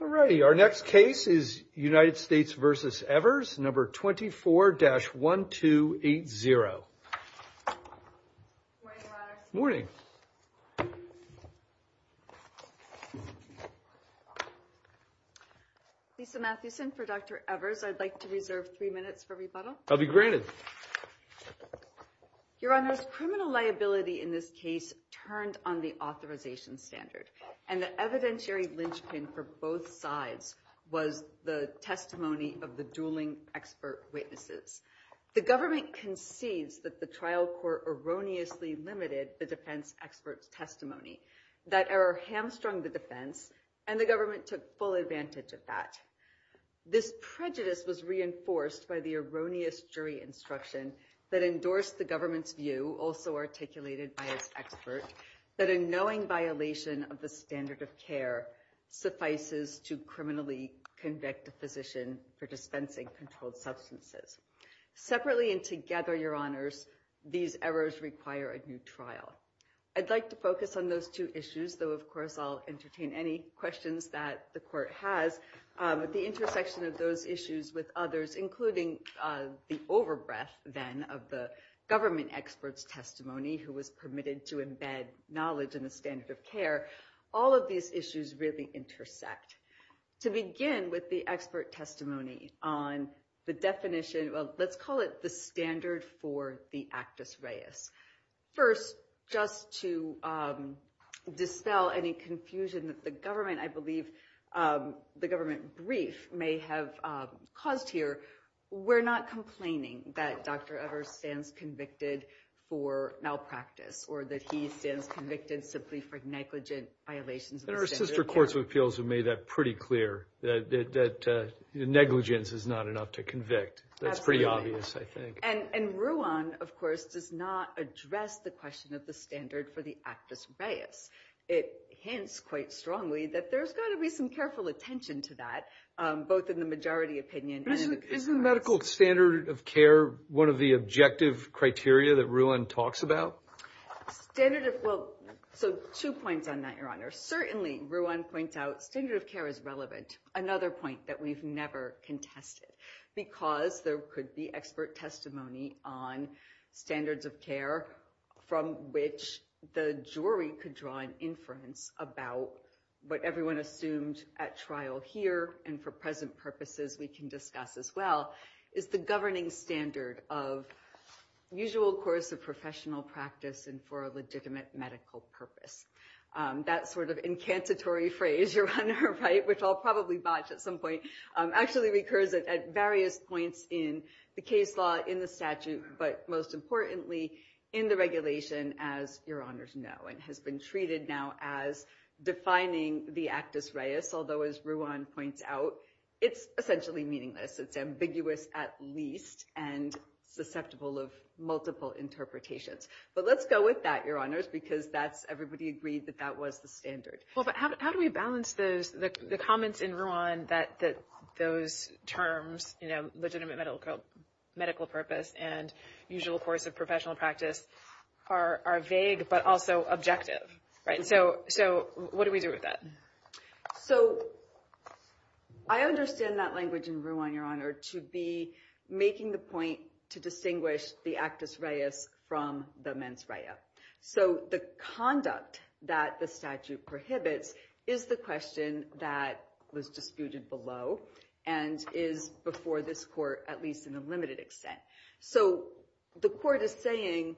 All righty, our next case is United States v. Evers, No. 24-1280. Morning, Your Honor. Morning. Lisa Mathewson for Dr. Evers. I'd like to reserve three minutes for rebuttal. I'll be granted. Your Honor, criminal liability in this case turned on the authorization standard. And the evidentiary linchpin for both sides was the testimony of the dueling expert witnesses. The government concedes that the trial court erroneously limited the defense expert's testimony, that error hamstrung the defense, and the government took full advantage of that. This prejudice was reinforced by the erroneous jury instruction that endorsed the government's view, also articulated by its expert, that a knowing violation of the standard of care suffices to criminally convict a physician for dispensing controlled substances. Separately and together, Your Honors, these errors require a new trial. I'd like to focus on those two issues, though, of course, I'll entertain any questions that the court has. But the intersection of those issues with others, including the overbreath, then, of the government expert's testimony, who was permitted to embed knowledge in the standard of care, all of these issues really intersect. To begin with the expert testimony on the definition of, let's call it the standard for the actus reus. First, just to dispel any confusion that the government, I believe, the government brief may have caused here, we're not complaining that Dr. Evers stands convicted for malpractice, or that he stands convicted simply for negligent violations of the standard of care. And our sister courts of appeals have made that pretty clear, that negligence is not enough to convict. That's pretty obvious, I think. And Ruan, of course, does not address the question of the standard for the actus reus. It hints quite strongly that there's got to be some careful attention to that, both in the majority opinion. Isn't the medical standard of care one of the objective criteria that Ruan talks about? So two points on that, Your Honor. Certainly, Ruan points out, standard of care is relevant. Another point that we've never contested, because there could be expert testimony on standards of care, from which the jury could draw an inference about what everyone assumed at trial here, and for present purposes, we can discuss as well, is the governing standard of usual course of professional practice and for a legitimate medical purpose. That sort of incantatory phrase, Your Honor, which I'll probably botch at some point, actually recurs at various points in the case law, in the statute, but most importantly, in the regulation, as Your Honors know, and has been treated now as defining the actus reus, although as Ruan points out, it's essentially meaningless. It's ambiguous at least, and susceptible of multiple interpretations. But let's go with that, Your Honors, because everybody agreed that that was the standard. Well, but how do we balance the comments in Ruan that those terms, legitimate medical purpose and usual course of professional practice, are vague but also objective? So what do we do with that? So I understand that language in Ruan, Your Honor, to be making the point to distinguish the actus reus from the mens rea. So the conduct that the statute prohibits is the question that was disputed below and is before this court at least in a limited extent. So the court is saying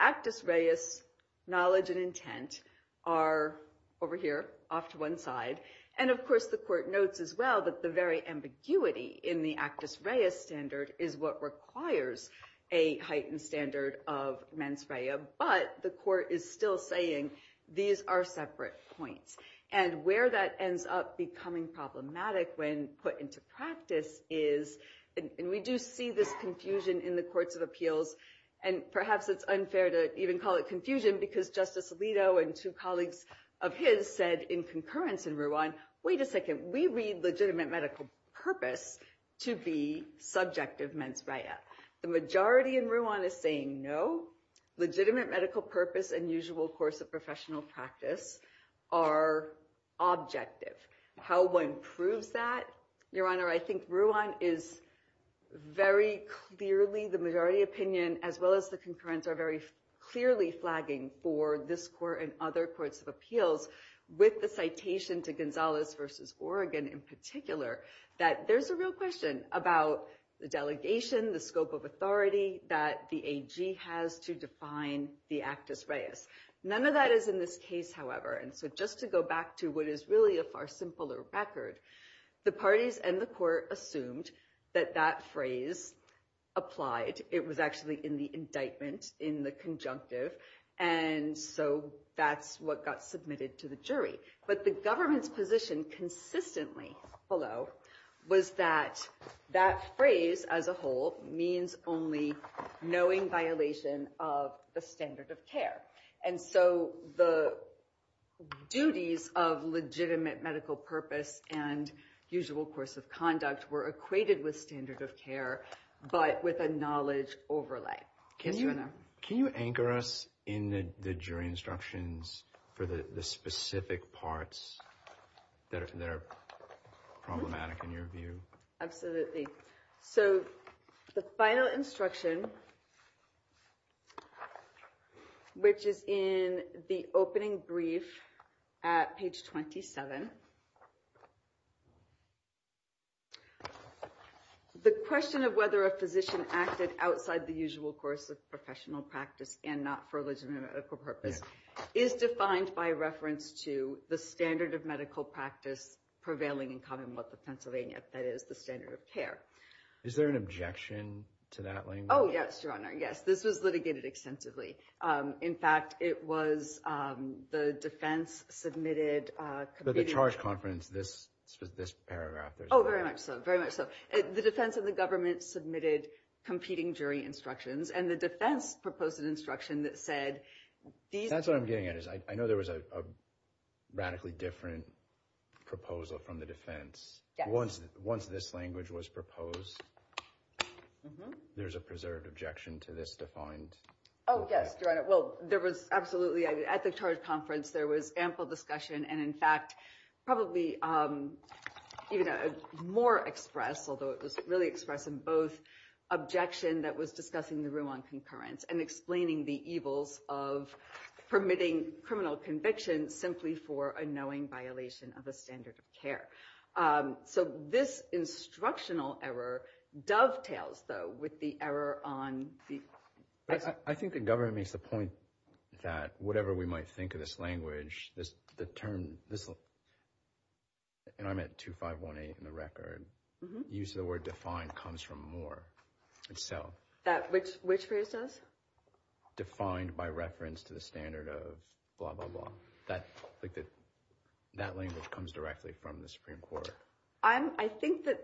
actus reus, knowledge and intent, are over here, off to one side, and of course the court notes as well that the very ambiguity in the actus reus standard is what requires a heightened standard of mens rea, but the court is still saying these are separate points. And where that ends up becoming problematic when put into practice is, and we do see this confusion in the courts of appeals, and perhaps it's unfair to even call it confusion because Justice Alito and two colleagues of his said in concurrence in Ruan, wait a second, we read legitimate medical purpose to be subjective mens rea. The majority in Ruan is saying no, legitimate medical purpose and usual course of professional practice are objective. How one proves that, Your Honor, I think Ruan is very clearly, the majority opinion as well as the concurrence are very clearly flagging for this court and other courts of appeals with the citation to Gonzalez versus Oregon in particular, that there's a real question about the delegation, the scope of authority that the AG has to define the actus reus. None of that is in this case, however, and so just to go back to what is really a far simpler record, the parties and the court assumed that that phrase applied. It was actually in the indictment, in the conjunctive, and so that's what got submitted to the jury. But the government's position consistently, although, was that that phrase as a whole means only knowing violation of the standard of care. And so the duties of legitimate medical purpose and usual course of conduct were equated with standard of care, but with a knowledge overlay. Can you anchor us in the jury instructions for the specific parts that are problematic in your view? Absolutely. So the final instruction, which is in the opening brief at page 27, the question of whether a physician acted outside the usual course of professional practice and not for a legitimate medical purpose is defined by reference to the standard of medical practice prevailing in commonwealth of Pennsylvania, that is, the standard of care. Is there an objection to that language? Oh, yes, Your Honor, yes. This was litigated extensively. In fact, it was the defense submitted— But the charge conference, this paragraph— Oh, very much so, very much so. The defense and the government submitted competing jury instructions, and the defense proposed an instruction that said— That's what I'm getting at, is I know there was a radically different proposal from the defense. Once this language was proposed, there's a preserved objection to this defined— Oh, yes, Your Honor. Well, there was absolutely—at the charge conference, there was ample discussion, and in fact, probably even more expressed, although it was really expressed in both the objection that was discussing the rule on concurrence and explaining the evils of permitting criminal conviction simply for a knowing violation of a standard of care. So this instructional error dovetails, though, with the error on the— But I think the government makes the point that whatever we might think of this language, the term—and I'm at 2518 in the record— uses the word defined comes from Moore itself. Which phrase does? Defined by reference to the standard of blah, blah, blah. That language comes directly from the Supreme Court. I think that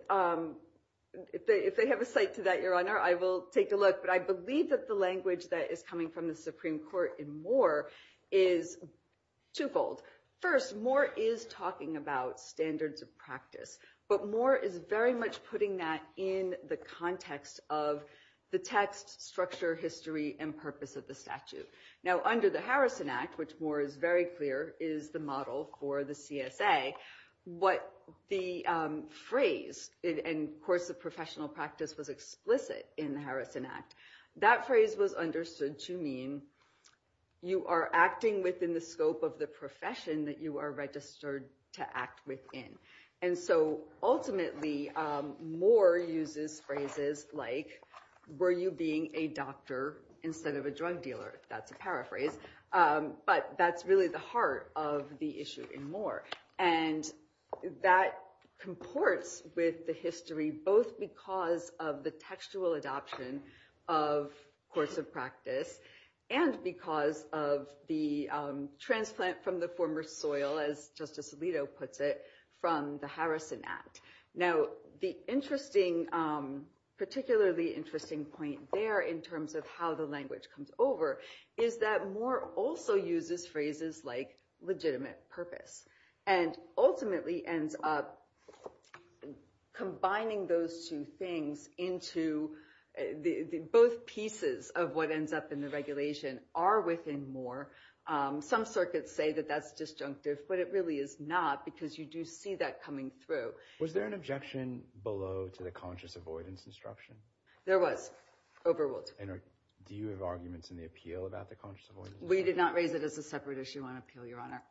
if they have a site to that, Your Honor, I will take a look, but I believe that the language that is coming from the Supreme Court in Moore is twofold. First, Moore is talking about standards of practice, but Moore is very much putting that in the context of the text, structure, history, and purpose of the statute. Now, under the Harrison Act, which Moore is very clear is the model for the CSA, what the phrase—and, of course, the professional practice was explicit in the Harrison Act— that phrase was understood to mean you are acting within the scope of the profession that you are registered to act within. And so, ultimately, Moore uses phrases like, were you being a doctor instead of a drug dealer? That's a paraphrase. But that's really the heart of the issue in Moore. And that comports with the history, both because of the textual adoption of courts of practice and because of the transplant from the former soil, as Justice Alito puts it, from the Harrison Act. Now, the particularly interesting point there in terms of how the language comes over is that Moore also uses phrases like legitimate purpose and ultimately ends up combining those two things into— both pieces of what ends up in the regulation are within Moore. Some circuits say that that's disjunctive, but it really is not because you do see that coming through. Was there an objection below to the conscious avoidance instruction? There was, overruled. Do you have arguments in the appeal about the conscious avoidance? We did not raise it as a separate issue on appeal, Your Honor.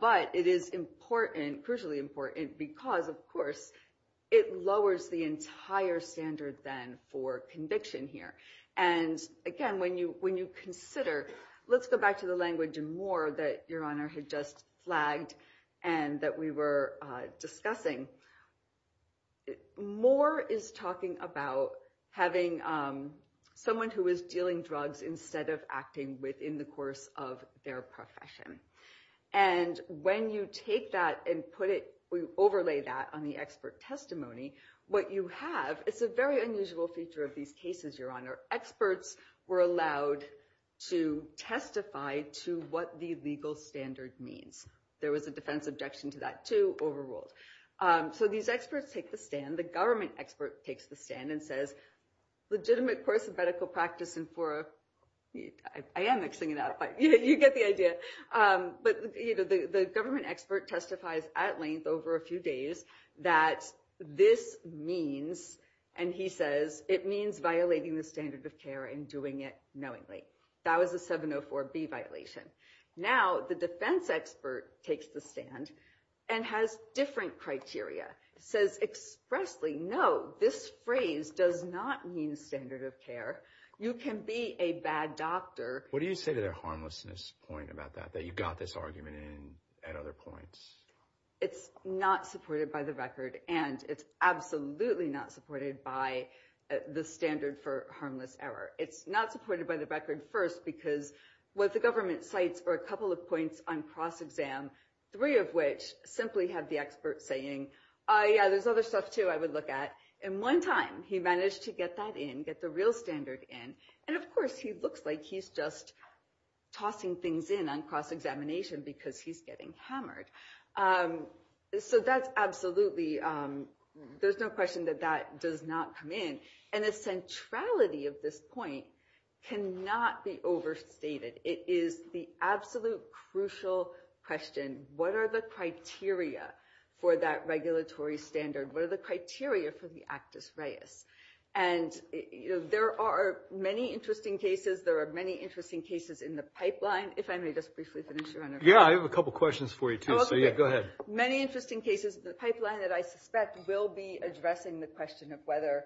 But it is crucially important because, of course, it lowers the entire standard then for conviction here. And again, when you consider— let's go back to the language in Moore that Your Honor had just flagged and that we were discussing. Moore is talking about having someone who is dealing drugs instead of acting within the course of their profession. And when you take that and overlay that on the expert testimony, what you have is a very unusual feature of these cases, Your Honor. Experts were allowed to testify to what the legal standard means. There was a defense objection to that, too, overruled. So these experts take the stand. The government expert takes the stand and says, legitimate course of medical practice in four of— I am mixing it up, but you get the idea. But the government expert testifies at length over a few days that this means, and he says, it means violating the standard of care and doing it knowingly. That was a 704B violation. Now the defense expert takes the stand and has different criteria. Says expressly, no, this phrase does not mean standard of care. You can be a bad doctor. What do you say to their harmlessness point about that, that you got this argument at other points? It's not supported by the record, and it's absolutely not supported by the standard for harmless error. It's not supported by the record first because what the government cites are a couple of points on cross-exam, three of which simply have the expert saying, oh, yeah, there's other stuff, too, I would look at. And one time he managed to get that in, get the real standard in. And, of course, he looks like he's just tossing things in on cross-examination because he's getting hammered. So that's absolutely—there's no question that that does not come in. And the centrality of this point cannot be overstated. It is the absolute crucial question, what are the criteria for that regulatory standard? What are the criteria for the actus reus? And there are many interesting cases. There are many interesting cases in the pipeline. If I may just briefly finish, Your Honor. Yeah, I have a couple of questions for you, too, so go ahead. Many interesting cases in the pipeline that I suspect will be addressing the question of whether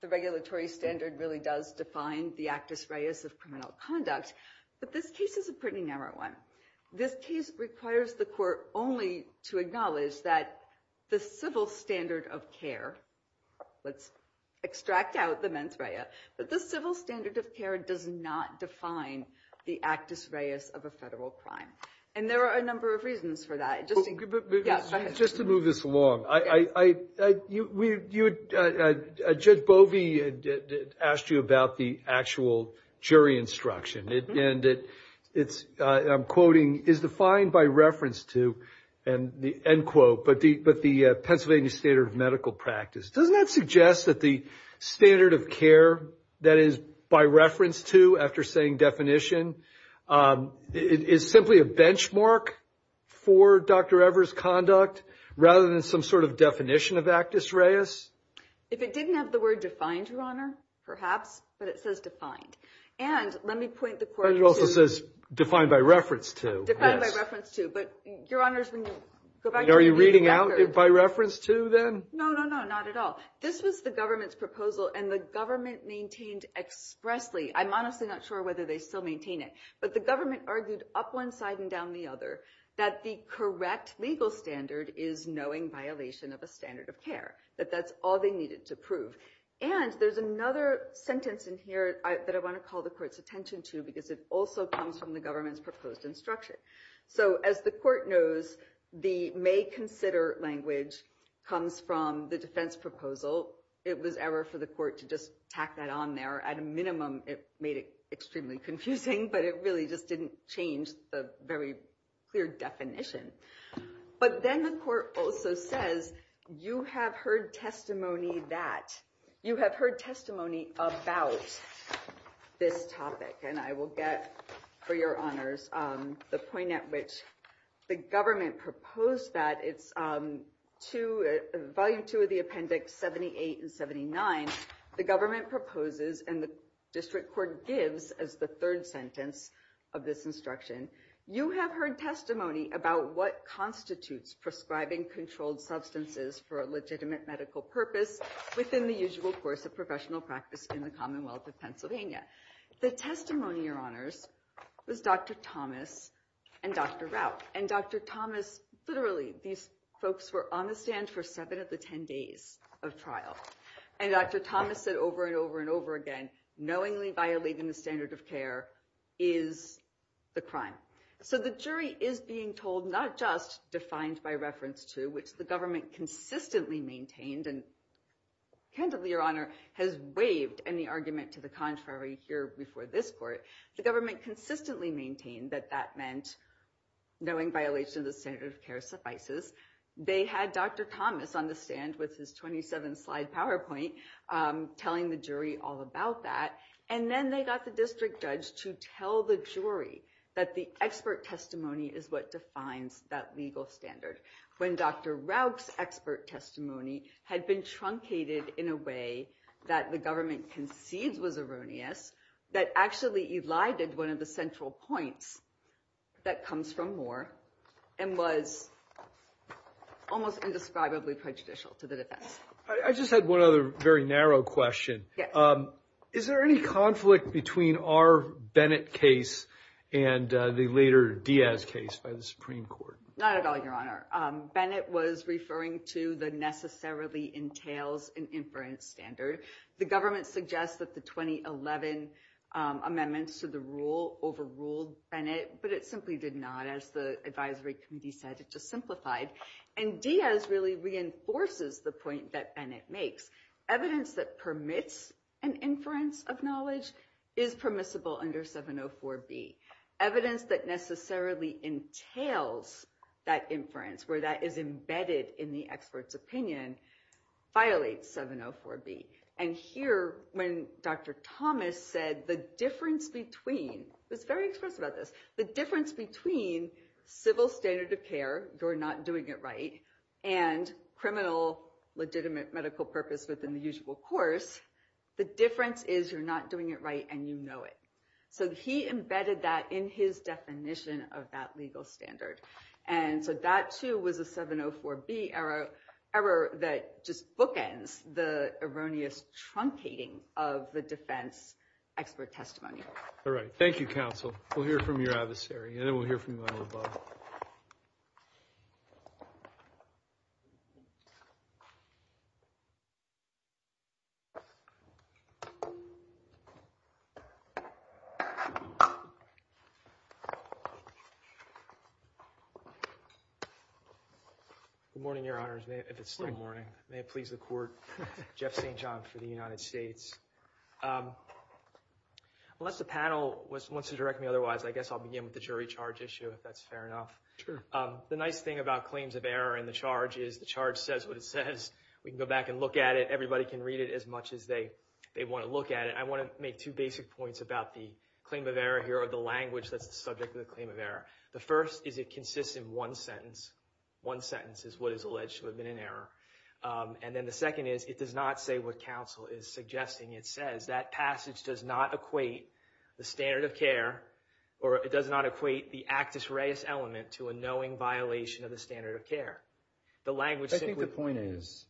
the regulatory standard really does define the actus reus of criminal conduct. But this case is a pretty narrow one. This case requires the court only to acknowledge that the civil standard of care— let's extract out the mens rea— but the civil standard of care does not define the actus reus of a federal crime. And there are a number of reasons for that. Just to move this along, Judge Bovee asked you about the actual jury instruction, and I'm quoting, is defined by reference to, end quote, but the Pennsylvania standard of medical practice. Doesn't that suggest that the standard of care that is by reference to, after saying definition, is simply a benchmark for Dr. Evers' conduct rather than some sort of definition of actus reus? If it didn't have the word defined, Your Honor, perhaps, but it says defined. And let me point the court to— But it also says defined by reference to. Defined by reference to. But, Your Honors, when you go back to your reading record— Are you reading out it by reference to, then? No, no, no, not at all. This was the government's proposal, and the government maintained expressly. I'm honestly not sure whether they still maintain it, but the government argued up one side and down the other that the correct legal standard is knowing violation of a standard of care, that that's all they needed to prove. And there's another sentence in here that I want to call the court's attention to because it also comes from the government's proposed instruction. So, as the court knows, the may consider language comes from the defense proposal. It was error for the court to just tack that on there. At a minimum, it made it extremely confusing, but it really just didn't change the very clear definition. But then the court also says, You have heard testimony that— You have heard testimony about this topic. And I will get, for Your Honors, the point at which the government proposed that. It's Volume 2 of the Appendix 78 and 79. The government proposes, and the district court gives as the third sentence of this instruction, You have heard testimony about what constitutes prescribing controlled substances for a legitimate medical purpose within the usual course of professional practice in the Commonwealth of Pennsylvania. The testimony, Your Honors, was Dr. Thomas and Dr. Rauch. And Dr. Thomas—literally, these folks were on the stand for 7 of the 10 days of trial. And Dr. Thomas said over and over and over again, knowingly violating the standard of care is the crime. So the jury is being told, not just defined by reference to, which the government consistently maintained, and candidly, Your Honor, has waived any argument to the contrary here before this court. The government consistently maintained that that meant knowing violation of the standard of care suffices. They had Dr. Thomas on the stand with his 27-slide PowerPoint telling the jury all about that. And then they got the district judge to tell the jury that the expert testimony is what defines that legal standard. When Dr. Rauch's expert testimony had been truncated in a way that the government concedes was erroneous, that actually elided one of the central points that comes from Moore and was almost indescribably prejudicial to the defense. I just had one other very narrow question. Is there any conflict between our Bennett case and the later Diaz case by the Supreme Court? Not at all, Your Honor. Bennett was referring to the necessarily entails an inference standard. The government suggests that the 2011 amendments to the rule overruled Bennett, but it simply did not. As the advisory committee said, it just simplified. And Diaz really reinforces the point that Bennett makes. Evidence that permits an inference of knowledge is permissible under 704B. Evidence that necessarily entails that inference, where that is embedded in the expert's opinion, violates 704B. And here, when Dr. Thomas said, the difference between civil standard of care, you're not doing it right, and criminal legitimate medical purpose within the usual course, the difference is you're not doing it right and you know it. So he embedded that in his definition of that legal standard. And so that too was a 704B error that just bookends the erroneous truncating of the defense expert testimony. All right. Thank you, counsel. We'll hear from your adversary, and then we'll hear from you. Good morning, Your Honors, if it's still morning. May it please the court. Jeff St. John for the United States. Unless the panel wants to direct me otherwise, I guess I'll begin with the jury charge issue, if that's fair enough. The nice thing about claims of error in the charge is the charge says what it says. We can go back and look at it. Everybody can read it as much as they want to look at it. I want to make two basic points about the claim of error here, or the language that's the subject of the claim of error. The first is it consists in one sentence. One sentence is what is alleged to have been an error. And then the second is it does not say what counsel is suggesting. It says that passage does not equate the standard of care, or it does not equate the actus reus element to a knowing violation of the standard of care. I think the point is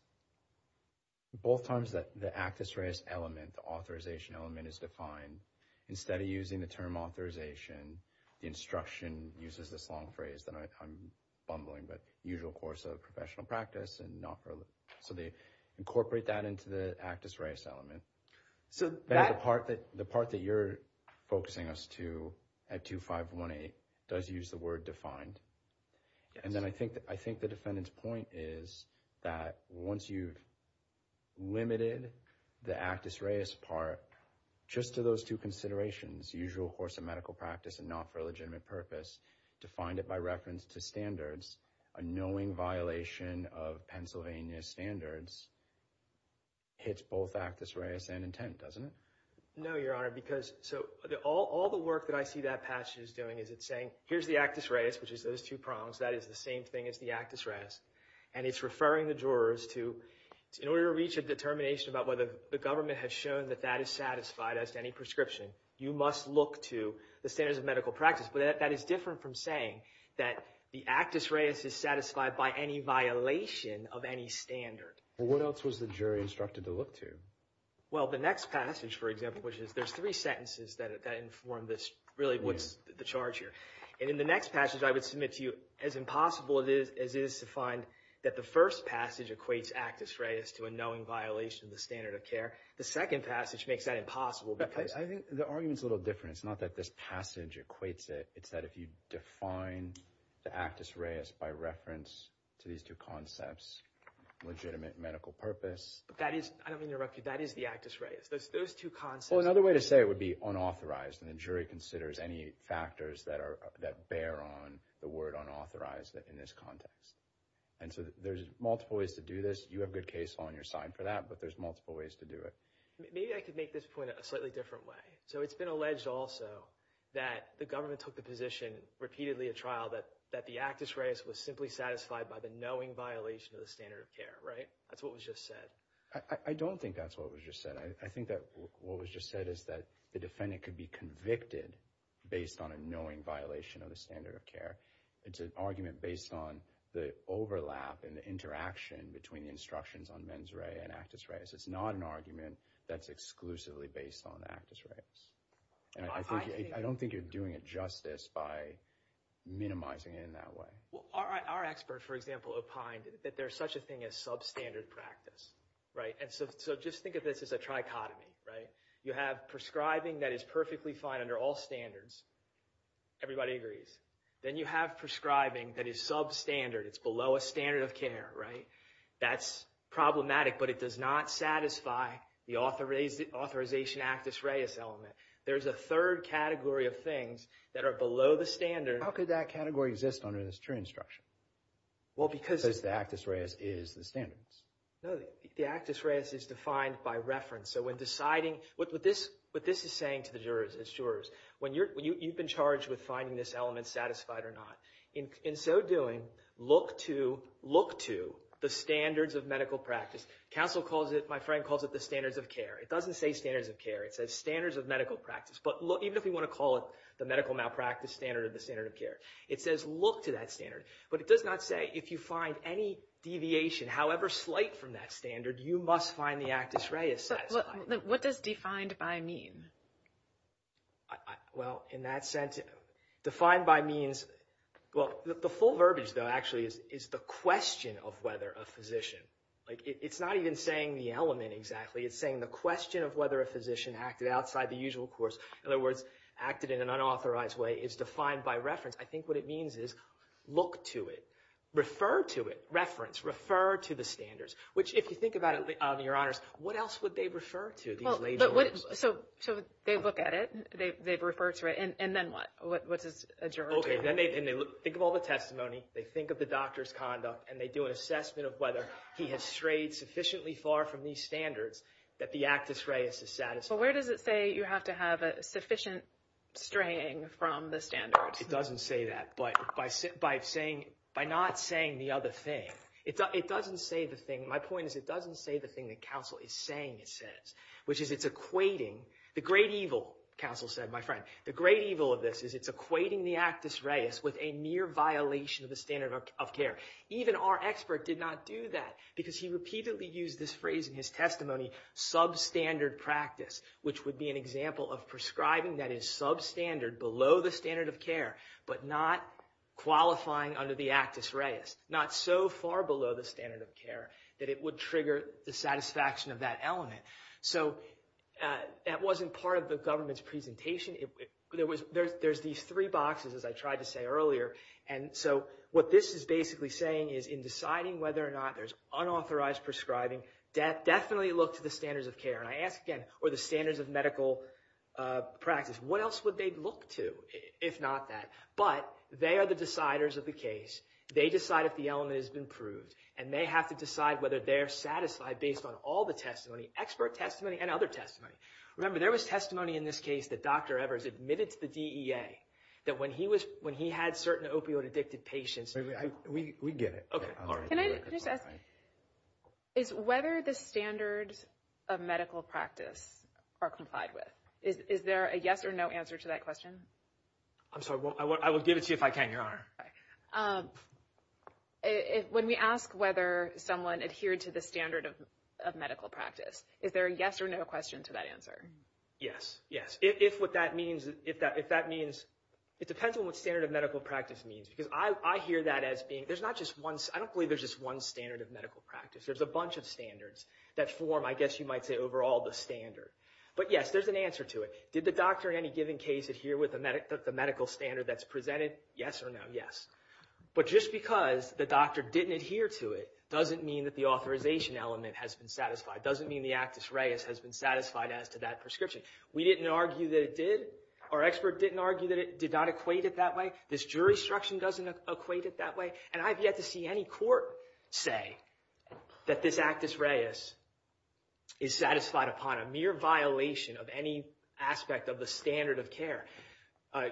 both times that the actus reus element, the authorization element is defined, instead of using the term authorization, the instruction uses this long phrase that I'm bumbling, but usual course of professional practice, so they incorporate that into the actus reus element. The part that you're focusing us to at 2518 does use the word defined. And then I think the defendant's point is that once you've limited the actus reus part just to those two considerations, usual course of medical practice and not for a legitimate purpose, defined it by reference to standards, a knowing violation of Pennsylvania standards hits both actus reus and intent, doesn't it? No, Your Honor, because all the work that I see that passage is doing is it's saying, here's the actus reus, which is those two prongs. That is the same thing as the actus reus. And it's referring the jurors to in order to reach a determination about whether the government has shown that that is satisfied as to any prescription, you must look to the standards of medical practice. But that is different from saying that the actus reus is satisfied by any violation of any standard. Well, what else was the jury instructed to look to? Well, the next passage, for example, which is there's three sentences that inform this really what's the charge here. And in the next passage, I would submit to you as impossible as it is to find that the first passage equates actus reus to a knowing violation of the standard of care. The second passage makes that impossible. I think the argument's a little different. It's not that this passage equates it. It's that if you define the actus reus by reference to these two concepts, legitimate medical purpose. I don't mean to interrupt you. That is the actus reus. Those two concepts. Well, another way to say it would be unauthorized. And the jury considers any factors that bear on the word unauthorized in this context. And so there's multiple ways to do this. You have good case law on your side for that. But there's multiple ways to do it. Maybe I could make this point a slightly different way. So it's been alleged also that the government took the position repeatedly at trial that the actus reus was simply satisfied by the knowing violation of the standard of care, right? That's what was just said. I don't think that's what was just said. I think that what was just said is that the defendant could be convicted based on a knowing violation of the standard of care. It's an argument based on the overlap and the interaction between the instructions on mens rea and actus reus. It's not an argument that's exclusively based on actus reus. And I don't think you're doing it justice by minimizing it in that way. Well, our expert, for example, opined that there's such a thing as substandard practice, right? And so just think of this as a trichotomy, right? You have prescribing that is perfectly fine under all standards. Everybody agrees. Then you have prescribing that is substandard. It's below a standard of care, right? That's problematic, but it does not satisfy the authorization actus reus element. There's a third category of things that are below the standard. How could that category exist under this true instruction? Well, because the actus reus is the standards. No, the actus reus is defined by reference. So when deciding, what this is saying to the jurors, when you've been charged with finding this element satisfied or not, in so doing, look to the standards of medical practice. Counsel calls it, my friend calls it the standards of care. It doesn't say standards of care. It says standards of medical practice. But even if we want to call it the medical malpractice standard or the standard of care, it says look to that standard. But it does not say if you find any deviation, however slight, from that standard, you must find the actus reus satisfied. What does defined by mean? Well, in that sense, defined by means, well, the full verbiage, though, actually, is the question of whether a physician, like it's not even saying the element exactly. It's saying the question of whether a physician acted outside the usual course, in other words, acted in an unauthorized way, is defined by reference. I think what it means is look to it, refer to it, reference, refer to the standards, which if you think about it, Your Honors, what else would they refer to? So they look at it. They refer to it. And then what? What's adjourned? Okay. Then they think of all the testimony. They think of the doctor's conduct. And they do an assessment of whether he has strayed sufficiently far from these standards that the actus reus is satisfied. Well, where does it say you have to have a sufficient straying from the standards? It doesn't say that. But by saying, by not saying the other thing, it doesn't say the thing. My point is it doesn't say the thing that counsel is saying it says, which is it's equating the great evil, counsel said, my friend. The great evil of this is it's equating the actus reus with a mere violation of the standard of care. Even our expert did not do that because he repeatedly used this phrase in his testimony, substandard practice, which would be an example of prescribing that is substandard, below the standard of care, but not qualifying under the actus reus, not so far below the standard of care that it would trigger the satisfaction of that element. So that wasn't part of the government's presentation. There's these three boxes, as I tried to say earlier. And so what this is basically saying is in deciding whether or not there's unauthorized prescribing, definitely look to the standards of care. And I ask again, or the standards of medical practice, what else would they look to if not that? But they are the deciders of the case. They decide if the element has been proved. And they have to decide whether they're satisfied based on all the testimony, expert testimony and other testimony. Remember, there was testimony in this case that Dr. Evers admitted to the DEA that when he had certain opioid-addicted patients. We get it. Can I just ask, is whether the standards of medical practice are complied with? Is there a yes or no answer to that question? I'm sorry, I will give it to you if I can, Your Honor. When we ask whether someone adhered to the standard of medical practice, is there a yes or no question to that answer? Yes, yes. If what that means, if that means, it depends on what standard of medical practice means. Because I hear that as being, there's not just one, I don't believe there's just one standard of medical practice. There's a bunch of standards that form, I guess you might say, overall the standard. But yes, there's an answer to it. Did the doctor in any given case adhere with the medical standard that's presented? Yes or no? Yes. But just because the doctor didn't adhere to it, doesn't mean that the authorization element has been satisfied. Doesn't mean the actus reus has been satisfied as to that prescription. We didn't argue that it did. Our expert didn't argue that it did not equate it that way. This jurisdiction doesn't equate it that way. And I've yet to see any court say that this actus reus is satisfied upon a mere violation of any aspect of the standard of care.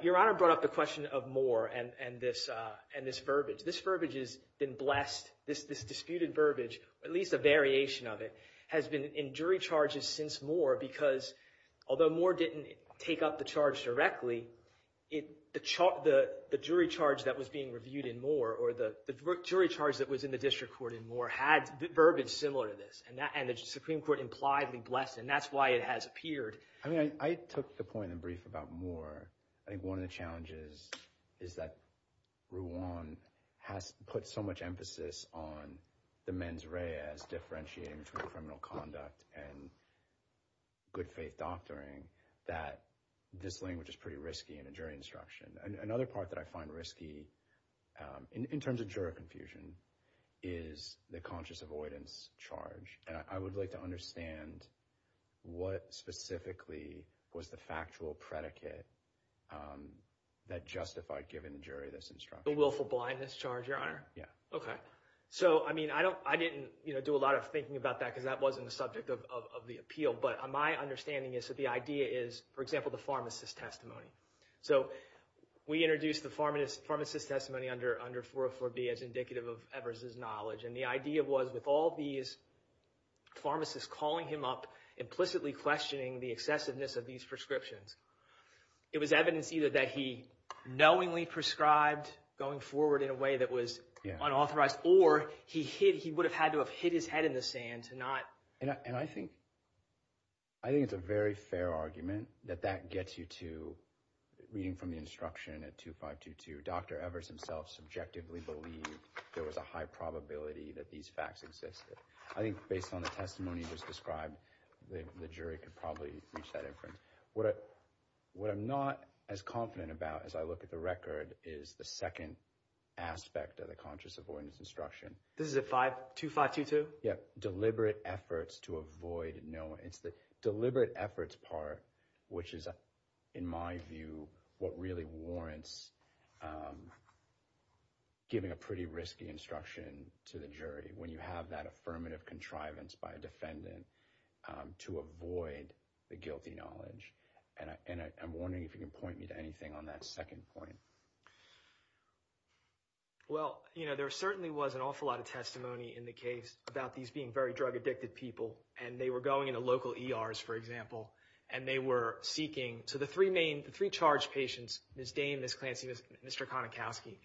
Your Honor brought up the question of Moore and this verbiage. This verbiage has been blessed, this disputed verbiage, at least a variation of it, has been in jury charges since Moore. Because although Moore didn't take up the charge directly, the jury charge that was being reviewed in Moore or the jury charge that was in the district court in Moore had verbiage similar to this. And the Supreme Court impliedly blessed it, and that's why it has appeared. I took the point in brief about Moore. I think one of the challenges is that Ruan has put so much emphasis on the mens rea as differentiating between criminal conduct and good faith doctoring that this language is pretty risky in a jury instruction. Another part that I find risky in terms of jury confusion is the conscious avoidance charge. And I would like to understand what specifically was the factual predicate that justified giving the jury this instruction. The willful blindness charge, Your Honor? Yeah. OK. So, I mean, I didn't do a lot of thinking about that because that wasn't the subject of the appeal. But my understanding is that the idea is, for example, the pharmacist's testimony. So we introduced the pharmacist's testimony under 404B as indicative of Evers' knowledge. And the idea was with all these pharmacists calling him up, implicitly questioning the excessiveness of these prescriptions, it was evidence either that he knowingly prescribed going forward in a way that was unauthorized or he would have had to have hit his head in the sand to not… And I think it's a very fair argument that that gets you to reading from the instruction at 2522. Dr. Evers himself subjectively believed there was a high probability that these facts existed. I think based on the testimony you just described, the jury could probably reach that inference. What I'm not as confident about as I look at the record is the second aspect of the conscious avoidance instruction. This is at 2522? Yeah, deliberate efforts to avoid knowing. It's the deliberate efforts part which is, in my view, what really warrants giving a pretty risky instruction to the jury when you have that affirmative contrivance by a defendant to avoid the guilty knowledge. And I'm wondering if you can point me to anything on that second point. Well, you know, there certainly was an awful lot of testimony in the case about these being very drug-addicted people. And they were going into local ERs, for example, and they were seeking… So the three main, the three charged patients, Ms. Dane, Ms. Clancy, Mr. Konikowski,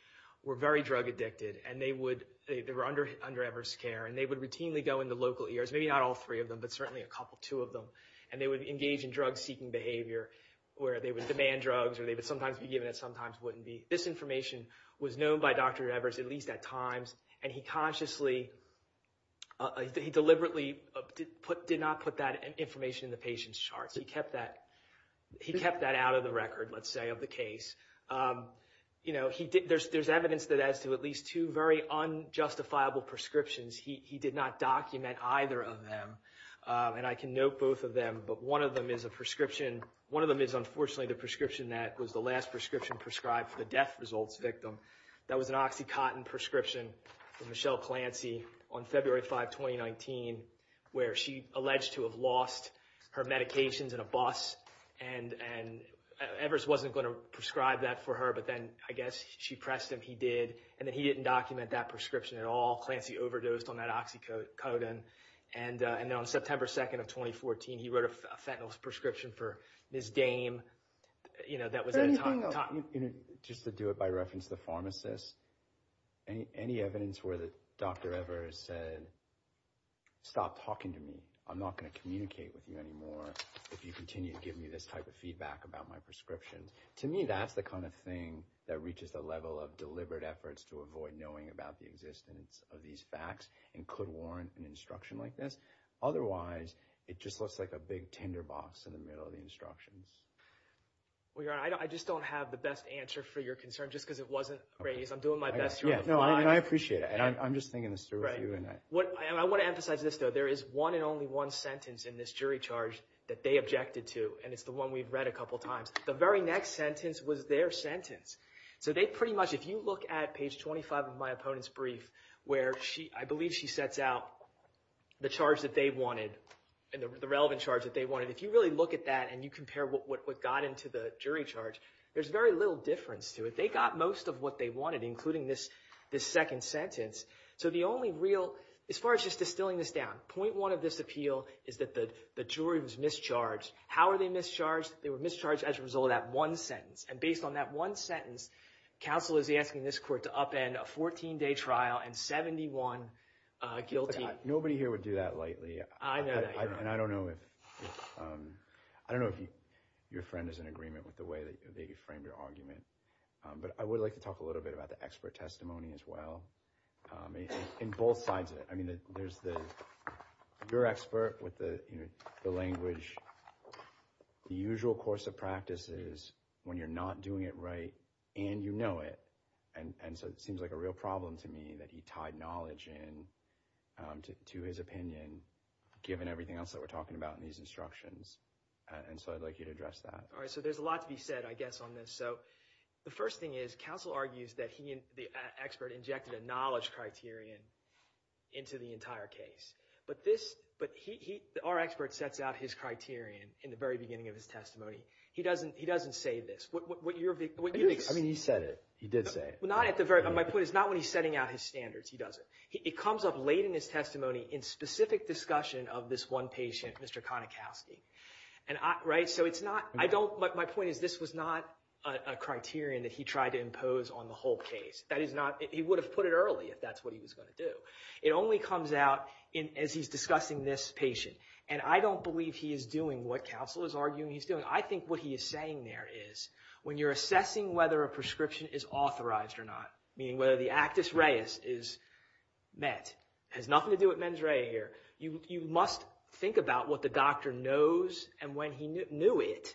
were very drug-addicted. And they would, they were under Evers' care. And they would routinely go into local ERs, maybe not all three of them, but certainly a couple, two of them. And they would engage in drug-seeking behavior where they would demand drugs or they would sometimes be given and sometimes wouldn't be. This information was known by Dr. Evers at least at times. And he consciously, he deliberately did not put that information in the patient's charts. He kept that out of the record, let's say, of the case. You know, there's evidence that as to at least two very unjustifiable prescriptions, he did not document either of them. And I can note both of them, but one of them is a prescription. One of them is unfortunately the prescription that was the last prescription prescribed for the death results victim. That was an OxyContin prescription for Michelle Clancy on February 5, 2019, where she alleged to have lost her medications in a bus. And Evers wasn't going to prescribe that for her, but then I guess she pressed him, he did. And then he didn't document that prescription at all. Michelle Clancy overdosed on that OxyContin. And then on September 2nd of 2014, he wrote a fentanyl prescription for Ms. Dame. You know, that was at a time. Just to do it by reference to the pharmacist, any evidence where Dr. Evers said, stop talking to me. I'm not going to communicate with you anymore if you continue to give me this type of feedback about my prescriptions. To me, that's the kind of thing that reaches the level of deliberate efforts to avoid knowing about the existence of these facts and could warrant an instruction like this. Otherwise, it just looks like a big tinderbox in the middle of the instructions. I just don't have the best answer for your concern just because it wasn't raised. I'm doing my best. I appreciate it. And I'm just thinking this through with you. I want to emphasize this, though. There is one and only one sentence in this jury charge that they objected to, and it's the one we've read a couple times. The very next sentence was their sentence. So they pretty much, if you look at page 25 of my opponent's brief, where I believe she sets out the charge that they wanted and the relevant charge that they wanted. If you really look at that and you compare what got into the jury charge, there's very little difference to it. They got most of what they wanted, including this second sentence. So the only real, as far as just distilling this down, point one of this appeal is that the jury was mischarged. How were they mischarged? They were mischarged as a result of that one sentence. And based on that one sentence, counsel is asking this court to upend a 14-day trial and 71 guilty. Nobody here would do that lightly. I know that. And I don't know if your friend is in agreement with the way that you framed your argument. But I would like to talk a little bit about the expert testimony as well, in both sides of it. I mean, there's your expert with the language. The usual course of practice is when you're not doing it right and you know it. And so it seems like a real problem to me that he tied knowledge in to his opinion, given everything else that we're talking about in these instructions. And so I'd like you to address that. All right, so there's a lot to be said, I guess, on this. So the first thing is, counsel argues that the expert injected a knowledge criterion into the entire case. But our expert sets out his criterion in the very beginning of his testimony. He doesn't say this. I mean, he said it. He did say it. My point is not when he's setting out his standards. He doesn't. It comes up late in his testimony in specific discussion of this one patient, Mr. Konikowski. So my point is this was not a criterion that he tried to impose on the whole case. He would have put it early if that's what he was going to do. It only comes out as he's discussing this patient. And I don't believe he is doing what counsel is arguing he's doing. I think what he is saying there is when you're assessing whether a prescription is authorized or not, meaning whether the actus reus is met, has nothing to do with mens rea here. You must think about what the doctor knows and when he knew it.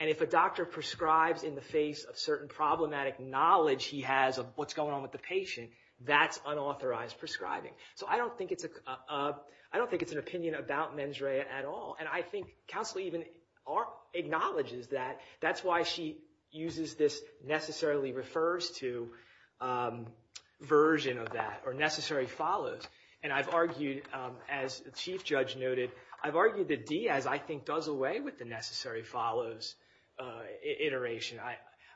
And if a doctor prescribes in the face of certain problematic knowledge he has of what's going on with the patient, that's unauthorized prescribing. So I don't think it's an opinion about mens rea at all. And I think counsel even acknowledges that. That's why she uses this necessarily refers to version of that or necessarily follows. And I've argued, as the chief judge noted, I've argued that Diaz I think does away with the necessary follows iteration.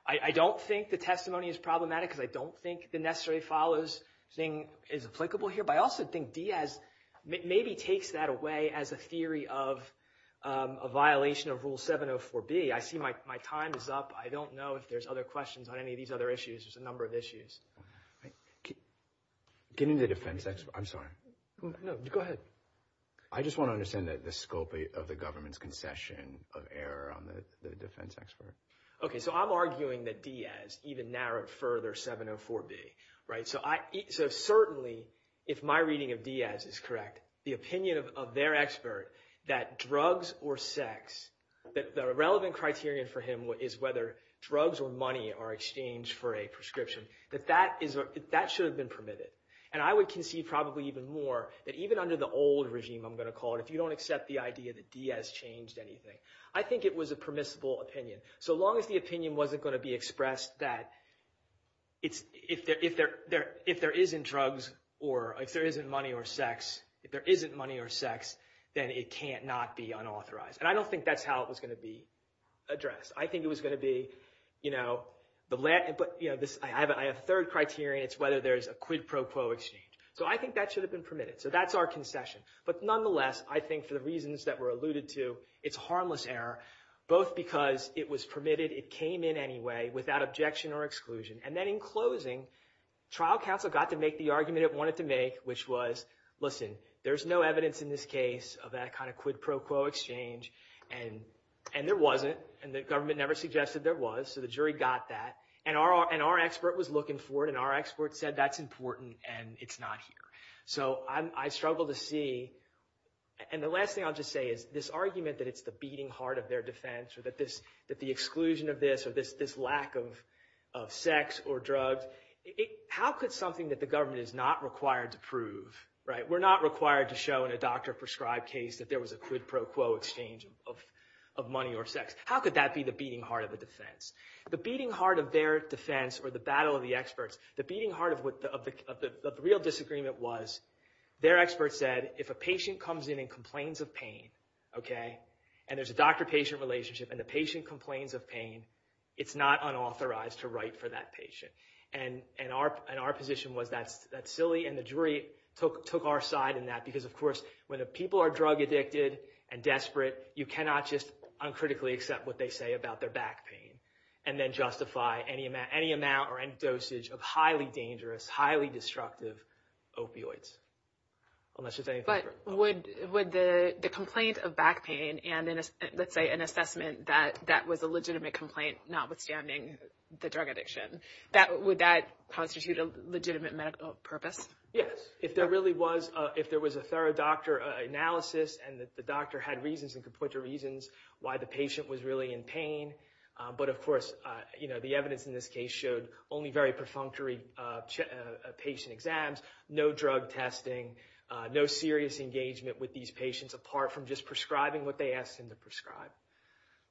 I don't think the testimony is problematic because I don't think the necessary follows thing is applicable here. But I also think Diaz maybe takes that away as a theory of a violation of Rule 704B. I see my time is up. I don't know if there's other questions on any of these other issues. There's a number of issues. Getting the defense expert. I'm sorry. Go ahead. I just want to understand the scope of the government's concession of error on the defense expert. Okay. So I'm arguing that Diaz even narrowed further 704B. So certainly if my reading of Diaz is correct, the opinion of their expert that drugs or sex, that the relevant criterion for him is whether drugs or money are exchanged for a prescription, that that should have been permitted. And I would concede probably even more that even under the old regime, I'm going to call it, if you don't accept the idea that Diaz changed anything, I think it was a permissible opinion. So long as the opinion wasn't going to be expressed that if there isn't drugs or if there isn't money or sex, if there isn't money or sex, then it can't not be unauthorized. And I don't think that's how it was going to be addressed. I think it was going to be, you know, I have a third criterion. It's whether there's a quid pro quo exchange. So I think that should have been permitted. So that's our concession. But nonetheless, I think for the reasons that were alluded to, it's harmless error, both because it was permitted, it came in anyway, without objection or exclusion. And then in closing, trial counsel got to make the argument it wanted to make, which was, listen, there's no evidence in this case of that kind of quid pro quo exchange. And there wasn't. And the government never suggested there was. So the jury got that. And our expert was looking for it. And our expert said that's important and it's not here. So I struggle to see. And the last thing I'll just say is this argument that it's the beating heart of their defense or that the exclusion of this or this lack of sex or drugs, how could something that the government is not required to prove, right, we're not required to show in a doctor prescribed case that there was a quid pro quo exchange of money or sex. How could that be the beating heart of the defense? The beating heart of their defense or the battle of the experts, the beating heart of the real disagreement was their expert said, if a patient comes in and complains of pain, okay, and there's a doctor-patient relationship and the patient complains of pain, it's not unauthorized to write for that patient. And our position was that's silly. And the jury took our side in that because, of course, when people are drug-addicted and desperate, you cannot just uncritically accept what they say about their back pain and then justify any amount or any dosage of highly dangerous, highly destructive opioids, unless there's anything for it. Would the complaint of back pain and, let's say, an assessment that that was a legitimate complaint, notwithstanding the drug addiction, would that constitute a legitimate medical purpose? Yes. If there was a thorough doctor analysis and the doctor had reasons and could point to reasons why the patient was really in pain. But, of course, the evidence in this case showed only very perfunctory patient exams, no drug testing, no serious engagement with these patients, apart from just prescribing what they asked him to prescribe.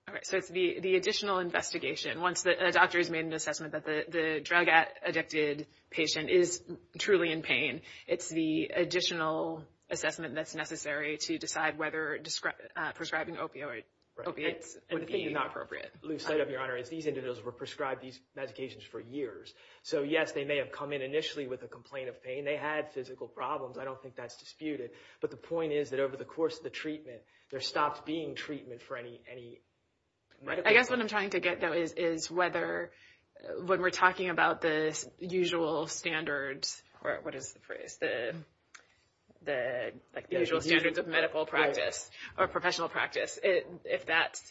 All right. So it's the additional investigation. Once a doctor has made an assessment that the drug-addicted patient is truly in pain, it's the additional assessment that's necessary to decide whether prescribing opioids would be inappropriate. Lou, side note, Your Honor, is these individuals were prescribed these medications for years. So, yes, they may have come in initially with a complaint of pain. They had physical problems. I don't think that's disputed. But the point is that over the course of the treatment, there stopped being treatment for any medical— I guess what I'm trying to get, though, is whether when we're talking about the usual standards, or what is the phrase, the usual standards of medical practice or professional practice, if that's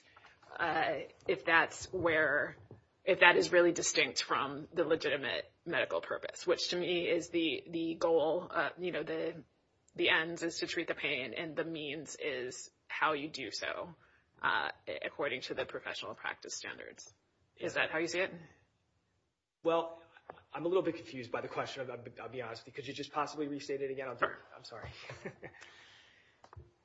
where—if that is really distinct from the legitimate medical purpose, which to me is the goal. You know, the end is to treat the pain, and the means is how you do so according to the professional practice standards. Is that how you see it? Well, I'm a little bit confused by the question, I'll be honest with you. Could you just possibly restate it again? I'm sorry.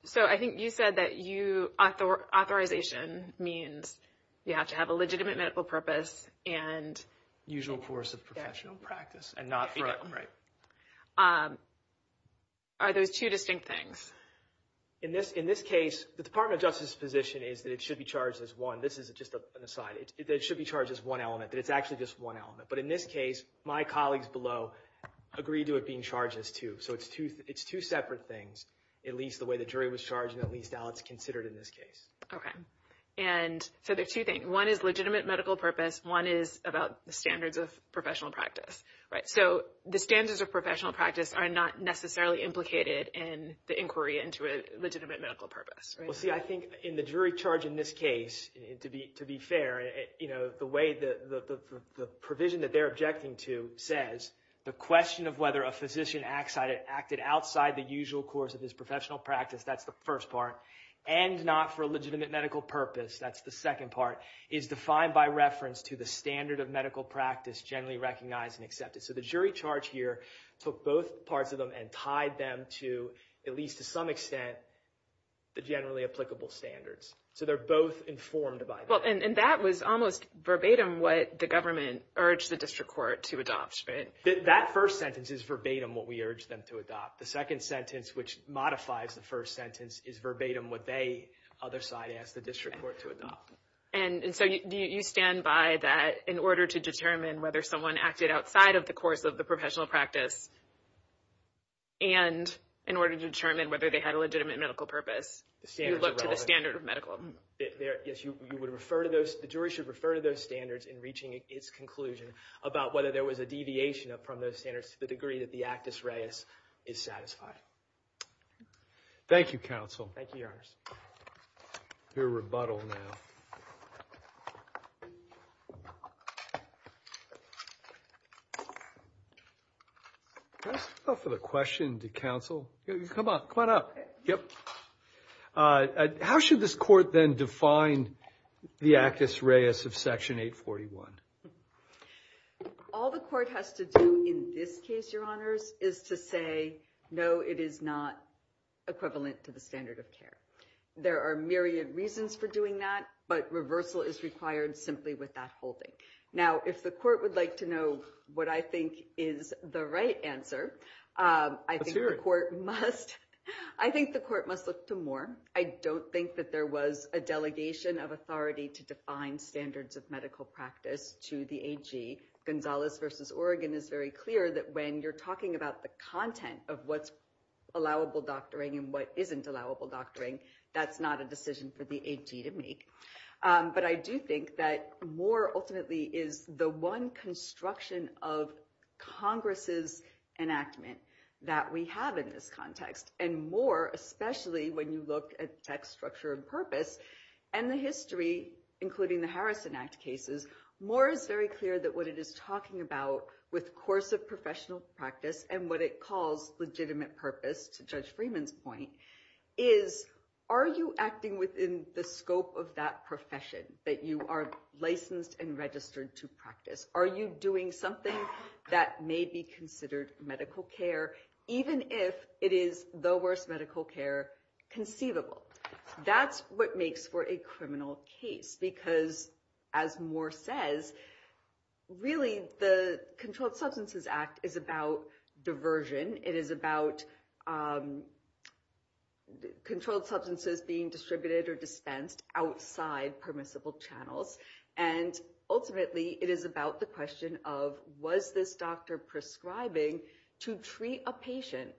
So I think you said that you—authorization means you have to have a legitimate medical purpose and— Usual course of professional practice, and not— Right. Are those two distinct things? In this case, the Department of Justice's position is that it should be charged as one. This is just an aside. It should be charged as one element, that it's actually just one element. But in this case, my colleagues below agree to it being charged as two. So it's two separate things, at least the way the jury was charged, and at least how it's considered in this case. Okay. And so there are two things. One is legitimate medical purpose. One is about the standards of professional practice. Right. So the standards of professional practice are not necessarily implicated in the inquiry into a legitimate medical purpose, right? Well, see, I think in the jury charge in this case, to be fair, you know, the way the provision that they're objecting to says, the question of whether a physician acted outside the usual course of his professional practice, that's the first part, and not for a legitimate medical purpose, that's the second part, is defined by reference to the standard of medical practice generally recognized and accepted. So the jury charge here took both parts of them and tied them to, at least to some extent, the generally applicable standards. So they're both informed by that. Well, and that was almost verbatim what the government urged the district court to adopt, right? That first sentence is verbatim what we urged them to adopt. The second sentence, which modifies the first sentence, is verbatim what they, other side, asked the district court to adopt. And so you stand by that in order to determine whether someone acted outside of the course of the professional practice and in order to determine whether they had a legitimate medical purpose, you look to the standard of medical. Yes, you would refer to those, the jury should refer to those standards in reaching its conclusion about whether there was a deviation from those standards to the degree that the actus reus is satisfied. Thank you, counsel. Thank you, your honors. Your rebuttal now. That's enough of the question to counsel. Come on, come on up. Yep. How should this court then define the actus reus of Section 841? All the court has to do in this case, your honors, is to say, no, it is not equivalent to the standard of care. There are myriad reasons for doing that, but reversal is required simply with that holding. Now, if the court would like to know what I think is the right answer, I think the court must. I think the court must look to more. I don't think that there was a delegation of authority to define standards of medical practice to the AG. Gonzalez versus Oregon is very clear that when you're talking about the content of what's allowable doctoring and what isn't allowable doctoring, that's not a decision for the AG to make. But I do think that more ultimately is the one construction of Congress's enactment that we have in this context. And more, especially when you look at text structure and purpose and the history, including the Harrison Act cases, more is very clear that what it is talking about with course of professional practice and what it calls legitimate purpose, to Judge Freeman's point, is are you acting within the scope of that profession that you are licensed and registered to practice? Are you doing something that may be considered medical care, even if it is the worst medical care conceivable? That's what makes for a criminal case. Because as Moore says, really the Controlled Substances Act is about diversion. It is about controlled substances being distributed or dispensed outside permissible channels. And ultimately, it is about the question of was this doctor prescribing to treat a patient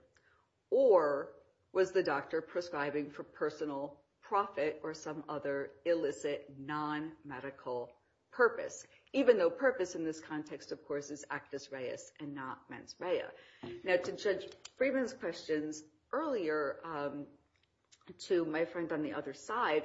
or was the doctor prescribing for personal profit or some other illicit non-medical purpose? Even though purpose in this context, of course, is actus reus and not mens rea. Now, to Judge Freeman's questions earlier to my friend on the other side,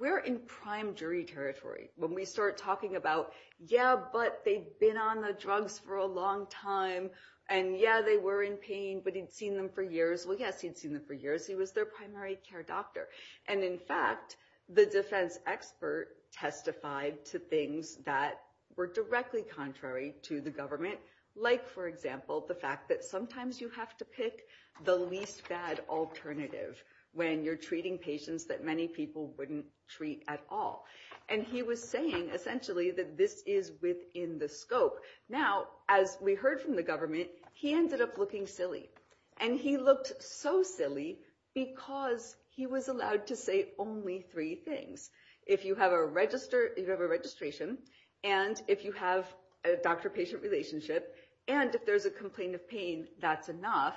we're in prime jury territory when we start talking about, yeah, but they've been on the drugs for a long time. And yeah, they were in pain, but he'd seen them for years. Well, yes, he'd seen them for years. He was their primary care doctor. And in fact, the defense expert testified to things that were directly contrary to the government, like, for example, the fact that sometimes you have to pick the least bad alternative when you're treating patients that many people wouldn't treat at all. And he was saying, essentially, that this is within the scope. Now, as we heard from the government, he ended up looking silly. And he looked so silly because he was allowed to say only three things. If you have a registration and if you have a doctor-patient relationship and if there's a complaint of pain, that's enough.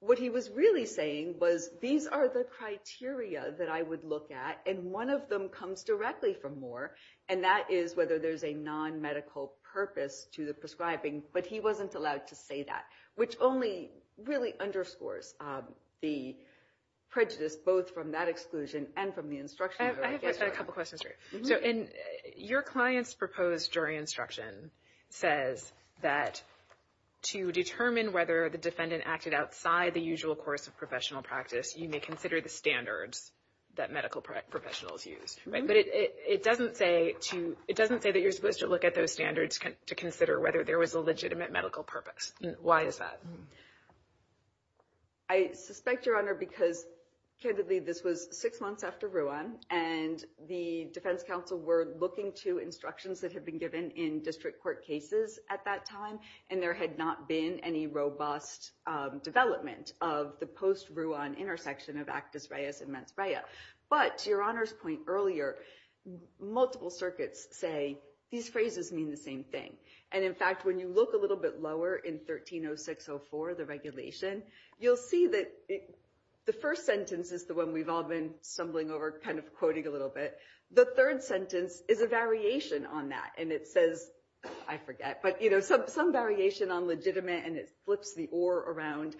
What he was really saying was these are the criteria that I would look at and one of them comes directly from Moore, and that is whether there's a non-medical purpose to the prescribing. But he wasn't allowed to say that, which only really underscores the prejudice, both from that exclusion and from the instruction. I have a couple questions for you. Your client's proposed jury instruction says that to determine whether the defendant acted outside the usual course of professional practice, you may consider the standards that medical professionals use. But it doesn't say that you're supposed to look at those standards to consider whether there was a legitimate medical purpose. Why is that? I suspect, Your Honor, because, candidly, this was six months after Ruan, and the defense counsel were looking to instructions that had been given in district court cases at that time, and there had not been any robust development of the post-Ruan intersection of Actas Reyes and Mans Reyes. But, to Your Honor's point earlier, multiple circuits say these phrases mean the same thing. And, in fact, when you look a little bit lower in 130604, the regulation, you'll see that the first sentence is the one we've all been stumbling over, kind of quoting a little bit. The third sentence is a variation on that, and it says, I forget, but, you know, some variation on legitimate, and it flips the or around.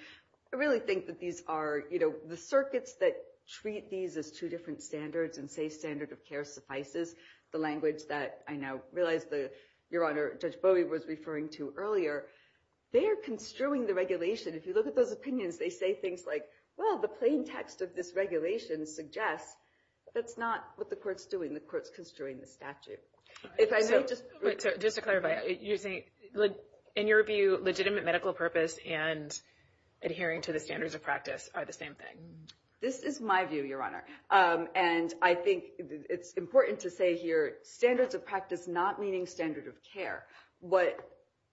I really think that these are, you know, the circuits that treat these as two different standards and say standard of care suffices, the language that I now realize that, Your Honor, Judge Bowie was referring to earlier, they're construing the regulation. If you look at those opinions, they say things like, well, the plain text of this regulation suggests that's not what the court's doing. The court's construing the statute. Just to clarify, in your view, legitimate medical purpose and adhering to the standards of practice are the same thing? This is my view, Your Honor, and I think it's important to say here, standards of practice not meaning standard of care. What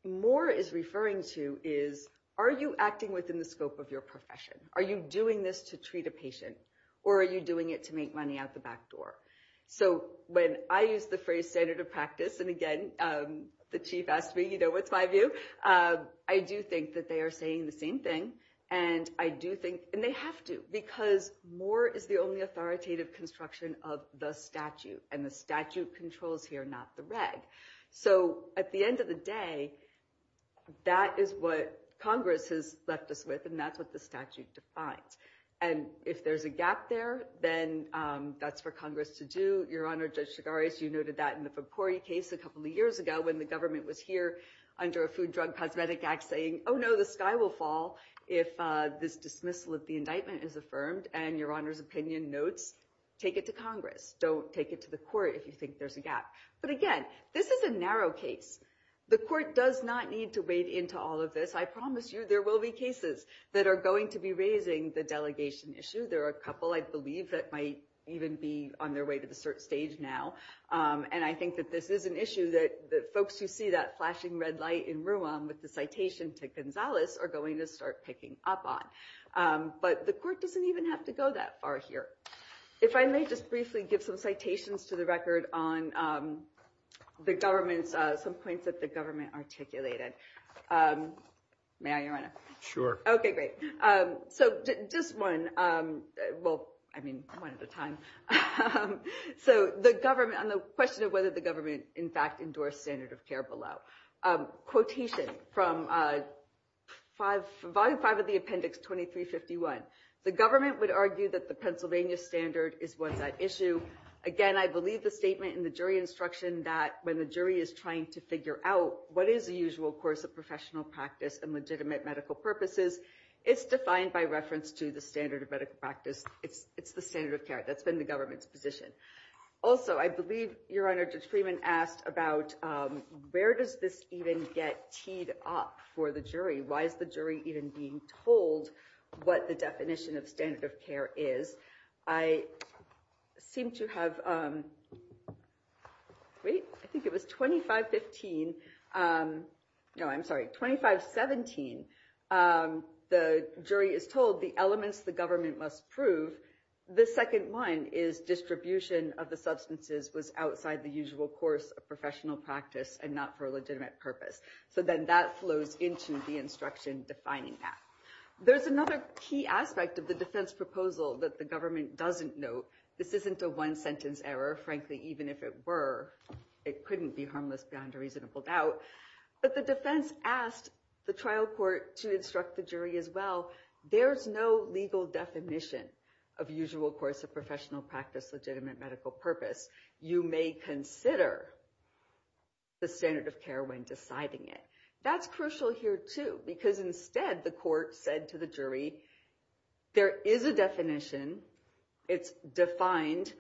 Moore is referring to is, are you acting within the scope of your profession? Are you doing this to treat a patient, or are you doing it to make money out the back door? So when I use the phrase standard of practice, and again, the chief asked me, you know, what's my view? I do think that they are saying the same thing, and I do think, and they have to, because Moore is the only authoritative construction of the statute, and the statute controls here, not the reg. So at the end of the day, that is what Congress has left us with, and that's what the statute defines. And if there's a gap there, then that's for Congress to do. Your Honor, Judge Chigaris, you noted that in the Foucouris case a couple of years ago, when the government was here under a food drug cosmetic act saying, oh no, the sky will fall if this dismissal of the indictment is affirmed. And Your Honor's opinion notes, take it to Congress. Don't take it to the court if you think there's a gap. But again, this is a narrow case. The court does not need to wade into all of this. I promise you, there will be cases that are going to be raising the delegation issue. There are a couple, I believe, that might even be on their way to the cert stage now. And I think that this is an issue that folks who see that flashing red light in room with the citation to Gonzales are going to start picking up on. But the court doesn't even have to go that far here. If I may just briefly give some citations to the record on some points that the government articulated. May I, Your Honor? Sure. OK, great. So just one. Well, I mean, one at a time. So on the question of whether the government, in fact, endorsed standard of care below. Quotation from Volume 5 of the Appendix 2351. The government would argue that the Pennsylvania standard is what's at issue. Again, I believe the statement in the jury instruction that when the jury is trying to figure out what is the usual course of professional practice and legitimate medical purposes, it's defined by reference to the standard of medical practice. It's the standard of care. That's been the government's position. Also, I believe, Your Honor, Judge Freeman asked about where does this even get teed up for the jury? Why is the jury even being told what the definition of standard of care is? I seem to have. I think it was 2515. No, I'm sorry. 2517. The jury is told the elements the government must prove. The second one is distribution of the substances was outside the usual course of professional practice and not for a legitimate purpose. So then that flows into the instruction defining that. There's another key aspect of the defense proposal that the government doesn't know. This isn't a one sentence error. Frankly, even if it were, it couldn't be harmless beyond a reasonable doubt. But the defense asked the trial court to instruct the jury as well. There's no legal definition of usual course of professional practice, legitimate medical purpose. You may consider the standard of care when deciding it. That's crucial here, too, because instead the court said to the jury there is a definition. It's defined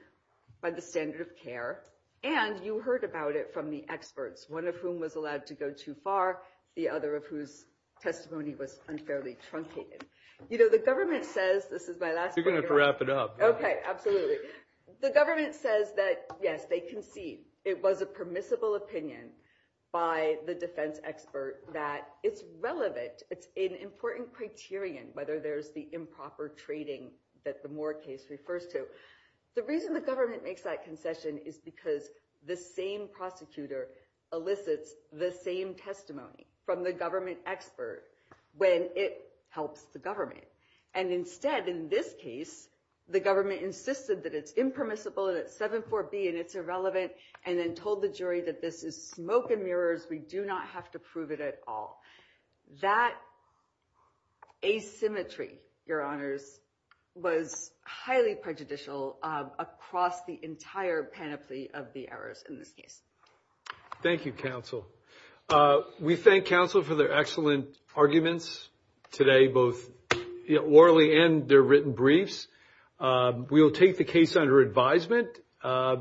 by the standard of care. And you heard about it from the experts, one of whom was allowed to go too far. The other of whose testimony was unfairly truncated. You know, the government says this is my last. You're going to wrap it up. OK, absolutely. The government says that, yes, they concede. It was a permissible opinion by the defense expert that it's relevant. It's an important criterion, whether there's the improper trading that the Moore case refers to. The reason the government makes that concession is because the same prosecutor elicits the same testimony from the government expert when it helps the government. And instead, in this case, the government insisted that it's impermissible and it's 7-4-B and it's irrelevant. And then told the jury that this is smoke and mirrors. We do not have to prove it at all. That asymmetry, your honors, was highly prejudicial across the entire panoply of the errors in this case. Thank you, counsel. We thank counsel for their excellent arguments today, both orally and their written briefs. We will take the case under advisement.